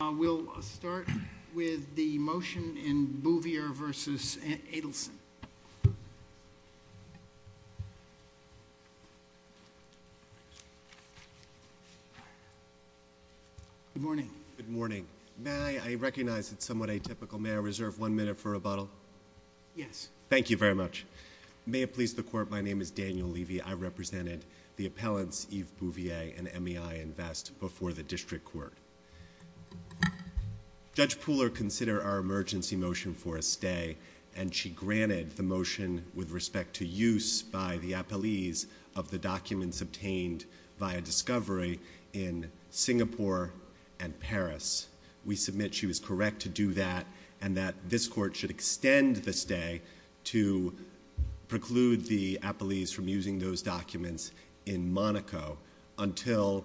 We'll start with the motion in Bouvier v. Adelson. Good morning. Good morning. I recognize it's somewhat atypical. May I reserve one minute for rebuttal? Yes. Thank you very much. May it please the Court, my name is Daniel Levy. I represented the appellants Yves Bouvier and Emi Invest before the District Court. Judge Pooler considered our emergency motion for a stay, and she granted the motion with respect to use by the appellees of the documents obtained via discovery in Singapore and Paris. We submit she was correct to do that, and that this Court should extend the stay to preclude the appellees from using those documents in Monaco until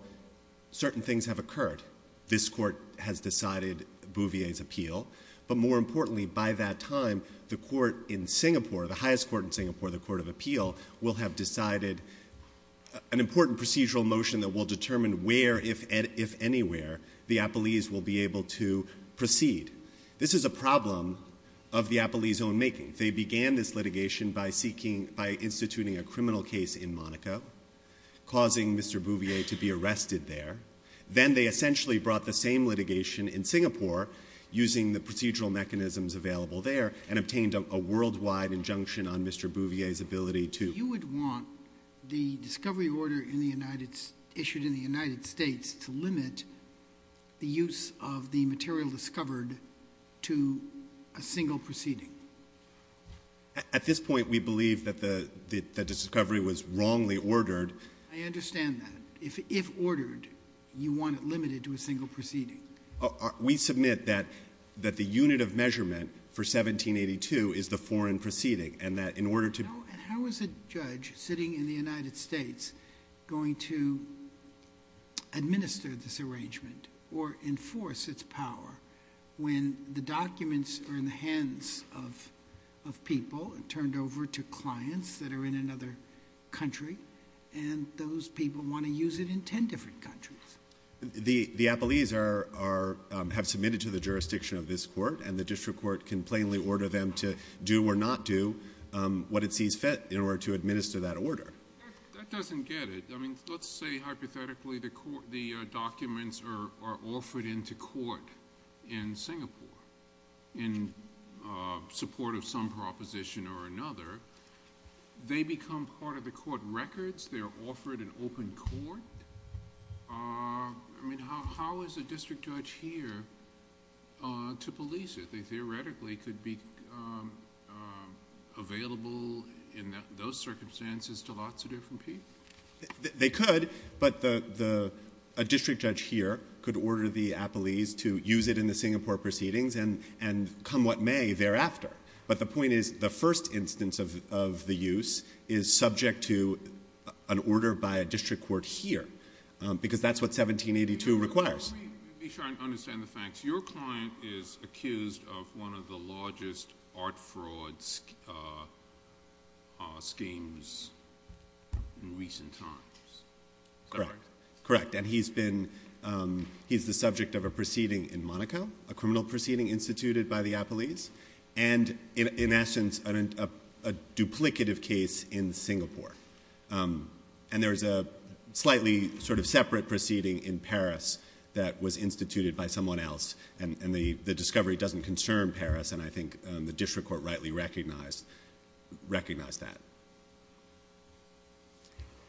certain things have occurred. This Court has decided Bouvier's appeal, but more importantly, by that time, the Court in Singapore, the highest court in Singapore, the Court of Appeal, will have decided an important procedural motion that will determine where, if anywhere, the appellees will be able to proceed. This is a problem of the appellees' own making. They began this litigation by instituting a criminal case in Monaco, causing Mr. Bouvier to be arrested there. Then they essentially brought the same litigation in Singapore, using the procedural mechanisms available there, and obtained a worldwide injunction on Mr. Bouvier's ability to... You would want the discovery order issued in the United States to limit the use of the material discovered to a single proceeding. At this point, we believe that the discovery was wrongly ordered. I understand that. If ordered, you want it limited to a single proceeding. We submit that the unit of measurement for 1782 is the foreign proceeding, and that in order to... How is a judge sitting in the United States going to administer this arrangement or enforce its power when the documents are in the hands of people and turned over to clients that are in another country, and those people want to use it in 10 different countries? The appellees have submitted to the jurisdiction of this court, and the district court can plainly order them to do or not do what it sees fit in order to administer that order. That doesn't get it. Let's say hypothetically the documents are offered into court in Singapore in support of some proposition or another. They become part of the court records. They're offered in open court. How is a district judge here to police it? They theoretically could be available in those circumstances to lots of different people. They could, but a district judge here could order the appellees to use it in the Singapore proceedings and come what may thereafter. But the point is the first instance of the use is subject to an order by a district court here because that's what 1782 requires. Let me try and understand the facts. Your client is accused of one of the largest art fraud schemes in recent times. Correct. Correct, and he's the subject of a proceeding in Monaco, a criminal proceeding instituted by the appellees, and in essence a duplicative case in Singapore. And there's a slightly sort of separate proceeding in Paris that was instituted by someone else, and the discovery doesn't concern Paris, and I think the district court rightly recognized that.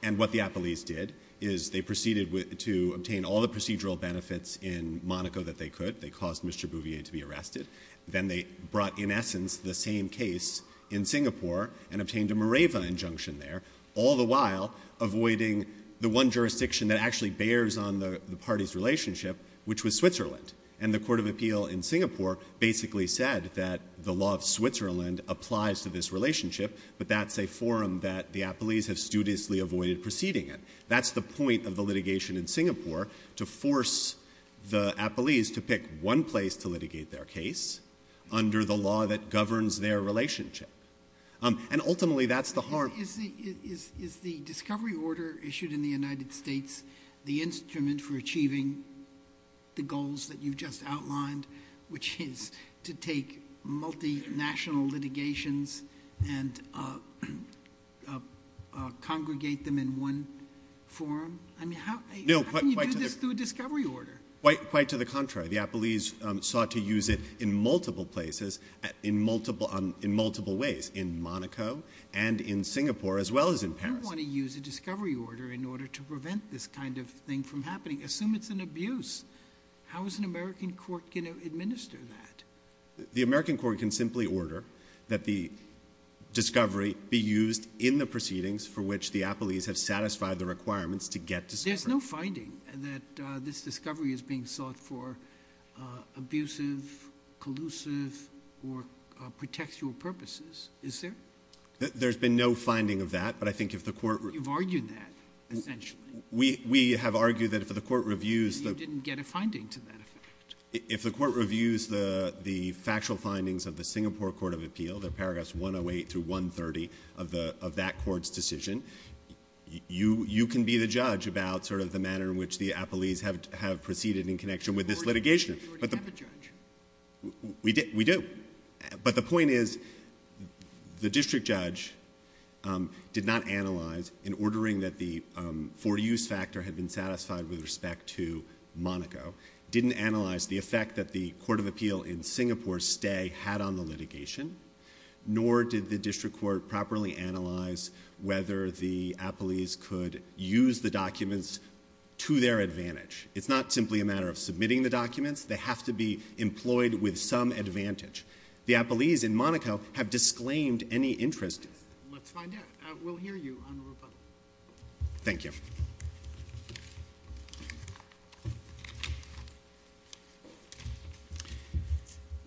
And what the appellees did is they proceeded to obtain all the procedural benefits in Monaco that they could. They caused Mr. Bouvier to be arrested. Then they brought, in essence, the same case in Singapore and obtained a Mareva injunction there, all the while avoiding the one jurisdiction that actually bears on the party's relationship, which was Switzerland. And the court of appeal in Singapore basically said that the law of Switzerland applies to this relationship, but that's a forum that the appellees have studiously avoided proceeding in. That's the point of the litigation in Singapore, to force the appellees to pick one place to litigate their case under the law that governs their relationship. And ultimately that's the harm. Is the discovery order issued in the United States the instrument for achieving the goals that you've just outlined, which is to take multinational litigations and congregate them in one forum? I mean, how can you do this through a discovery order? Quite to the contrary. The appellees sought to use it in multiple places, in multiple ways, in Monaco and in Singapore, as well as in Paris. You want to use a discovery order in order to prevent this kind of thing from happening. Assume it's an abuse. How is an American court going to administer that? The American court can simply order that the discovery be used in the proceedings for which the appellees have satisfied the requirements to get discovery. There's no finding that this discovery is being sought for abusive, collusive or pretextual purposes, is there? There's been no finding of that, but I think if the court... You've argued that, essentially. We have argued that if the court reviews... And you didn't get a finding to that effect. If the court reviews the factual findings of the Singapore Court of Appeal, they're paragraphs 108 through 130 of that court's decision, you can be the judge about sort of the manner in which the appellees have proceeded in connection with this litigation. You already have a judge. We do. But the point is the district judge did not analyse, in ordering that the for-use factor had been satisfied with respect to Monaco, didn't analyse the effect that the court of appeal in Singapore's stay had on the litigation, nor did the district court properly analyse whether the appellees could use the documents to their advantage. It's not simply a matter of submitting the documents. They have to be employed with some advantage. The appellees in Monaco have disclaimed any interest... Let's find out. We'll hear you on the report. Thank you.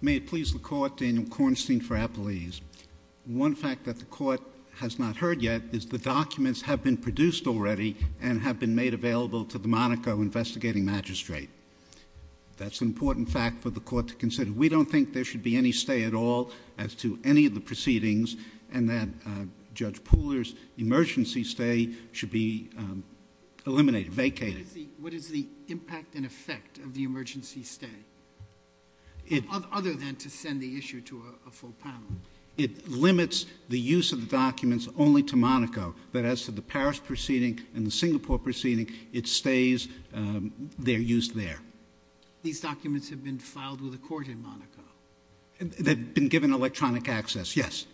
May it please the Court, Daniel Kornstein for appellees. One fact that the court has not heard yet is the documents have been produced already and have been made available to the Monaco investigating magistrate. That's an important fact for the court to consider. We don't think there should be any stay at all as to any of the proceedings and that Judge Pooler's emergency stay should be eliminated, vacated. What is the impact and effect of the emergency stay? Other than to send the issue to a full panel. It limits the use of the documents only to Monaco, but as to the Paris proceeding and the Singapore proceeding, it stays, they're used there. These documents have been filed with a court in Monaco? They've been given electronic access, yes.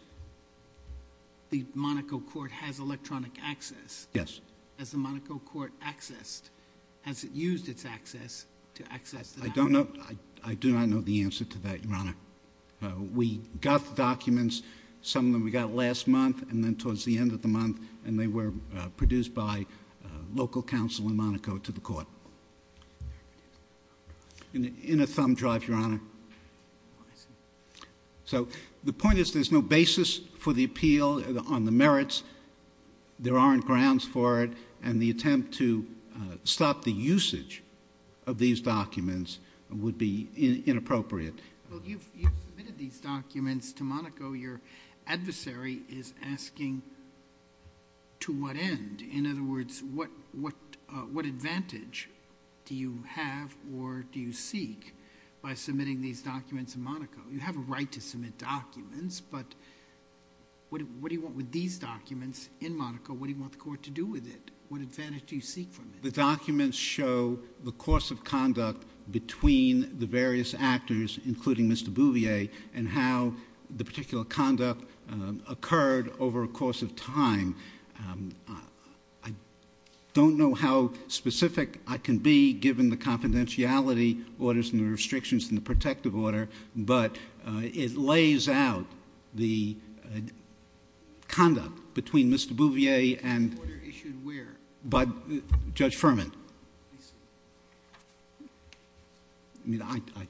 The Monaco court has electronic access? Yes. Has the Monaco court used its access to access the documents? I do not know the answer to that, Your Honor. We got the documents, some of them we got last month and then towards the end of the month, and they were produced by local counsel in Monaco to the court. In a thumb drive, Your Honor. So the point is there's no basis for the appeal on the merits, there aren't grounds for it, and the attempt to stop the usage of these documents would be inappropriate. Well, you've submitted these documents to Monaco, your adversary is asking to what end? In other words, what advantage do you have or do you seek by submitting these documents in Monaco? You have a right to submit documents, but what do you want with these documents in Monaco? What do you want the court to do with it? What advantage do you seek from it? The documents show the course of conduct between the various actors, including Mr Bouvier, and how the particular conduct occurred over a course of time. I don't know how specific I can be, given the confidentiality orders and the restrictions in the protective order, but it lays out the conduct between Mr Bouvier and... The order issued where? By Judge Furman. I see.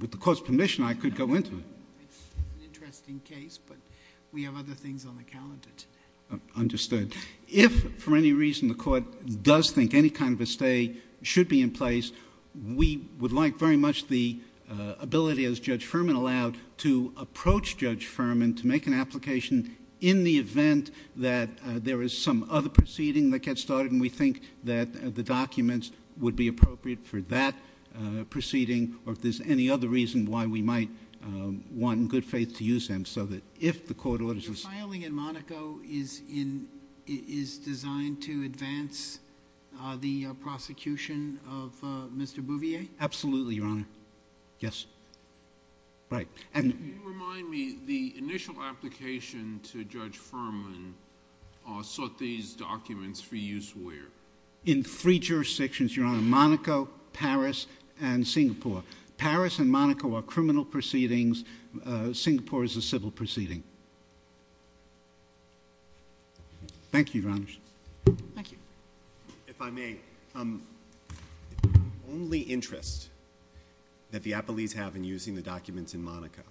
With the court's permission, I could go into it. It's an interesting case, but we have other things on the calendar today. Understood. If for any reason the court does think any kind of a stay should be in place, we would like very much the ability, as Judge Furman allowed, to approach Judge Furman to make an application in the event that there is some other proceeding that gets started and we think that the documents would be appropriate for that proceeding or if there's any other reason why we might want in good faith to use them, so that if the court orders... Your filing in Monaco is designed to advance the prosecution of Mr Bouvier? Absolutely, Your Honour. Yes. Right. Can you remind me, the initial application to Judge Furman sought these documents for use where? In three jurisdictions, Your Honour. Monaco, Paris, and Singapore. Paris and Monaco are criminal proceedings. Singapore is a civil proceeding. Thank you, Your Honour. Thank you. If I may, the only interest that the appellees have in using the documents in Monaco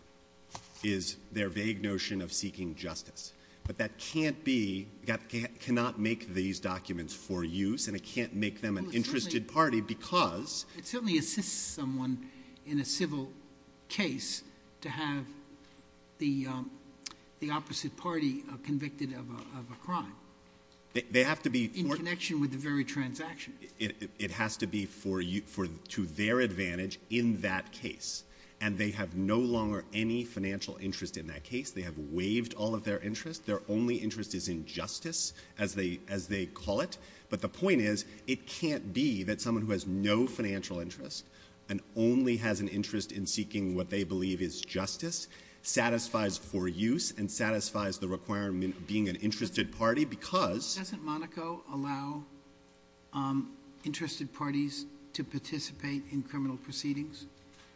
is their vague notion of seeking justice, but that cannot make these documents for use and it can't make them an interested party because... It certainly assists someone in a civil case to have the opposite party convicted of a crime. They have to be... In connection with the very transaction. It has to be to their advantage in that case and they have no longer any financial interest in that case. They have waived all of their interest. Their only interest is in justice, as they call it, but the point is it can't be that someone who has no financial interest and only has an interest in seeking what they believe is justice satisfies for use and satisfies the requirement of being an interested party because... Doesn't Monaco allow interested parties to participate in criminal proceedings?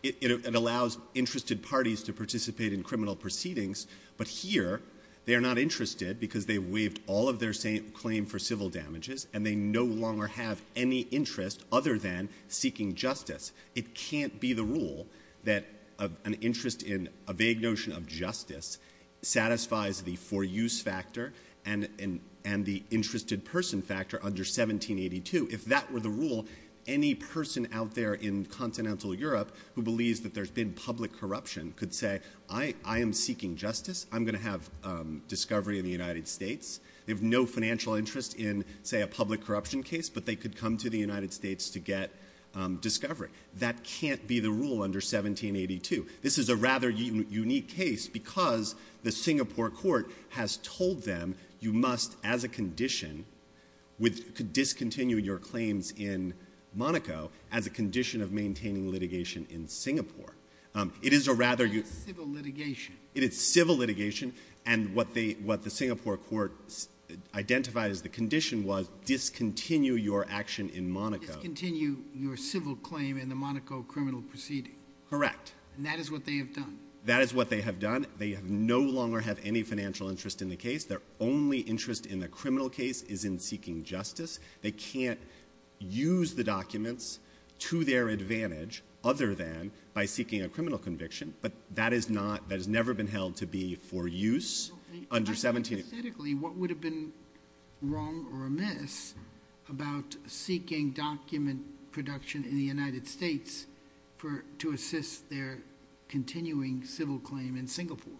It allows interested parties to participate in criminal proceedings, but here they are not interested because they've waived all of their claim for civil damages and they no longer have any interest other than seeking justice. It can't be the rule that an interest in a vague notion of justice satisfies the for use factor and the interested person factor under 1782. If that were the rule, any person out there in continental Europe who believes that there's been public corruption could say, I am seeking justice, I'm going to have discovery in the United States. They have no financial interest in, say, a public corruption case, but they could come to the United States to get discovery. That can't be the rule under 1782. This is a rather unique case because the Singapore court has told them you must, as a condition, discontinue your claims in Monaco as a condition of maintaining litigation in Singapore. It is a rather... It's civil litigation. It is civil litigation, and what the Singapore court identified as the condition was discontinue your action in Monaco. Discontinue your civil claim in the Monaco criminal proceeding. Correct. And that is what they have done. That is what they have done. They no longer have any financial interest in the case. Their only interest in the criminal case is in seeking justice. They can't use the documents to their advantage other than by seeking a criminal conviction, but that has never been held to be for use under 17... Aesthetically, what would have been wrong or amiss about seeking document production in the United States to assist their continuing civil claim in Singapore?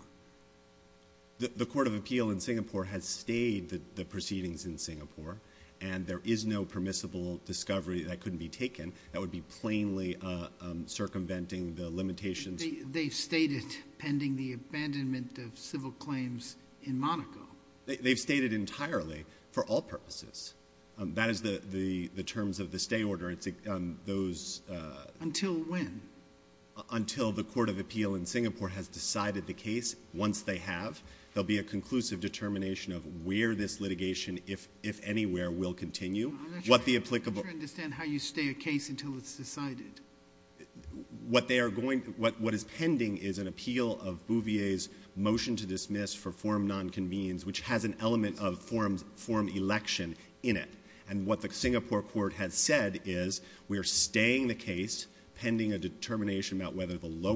The court of appeal in Singapore has stayed the proceedings in Singapore, and there is no permissible discovery that couldn't be taken. That would be plainly circumventing the limitations. They've stayed it pending the abandonment of civil claims in Monaco. They've stayed it entirely for all purposes. That is the terms of the stay order. Until when? Until the court of appeal in Singapore has decided the case. Once they have, there will be a conclusive determination of where this litigation, if anywhere, will continue. I'm not sure I understand how you stay a case until it's decided. What is pending is an appeal of Bouvier's motion to dismiss for forum nonconvenience, which has an element of forum election in it. And what the Singapore court has said is we are staying the case pending a determination about whether the lower...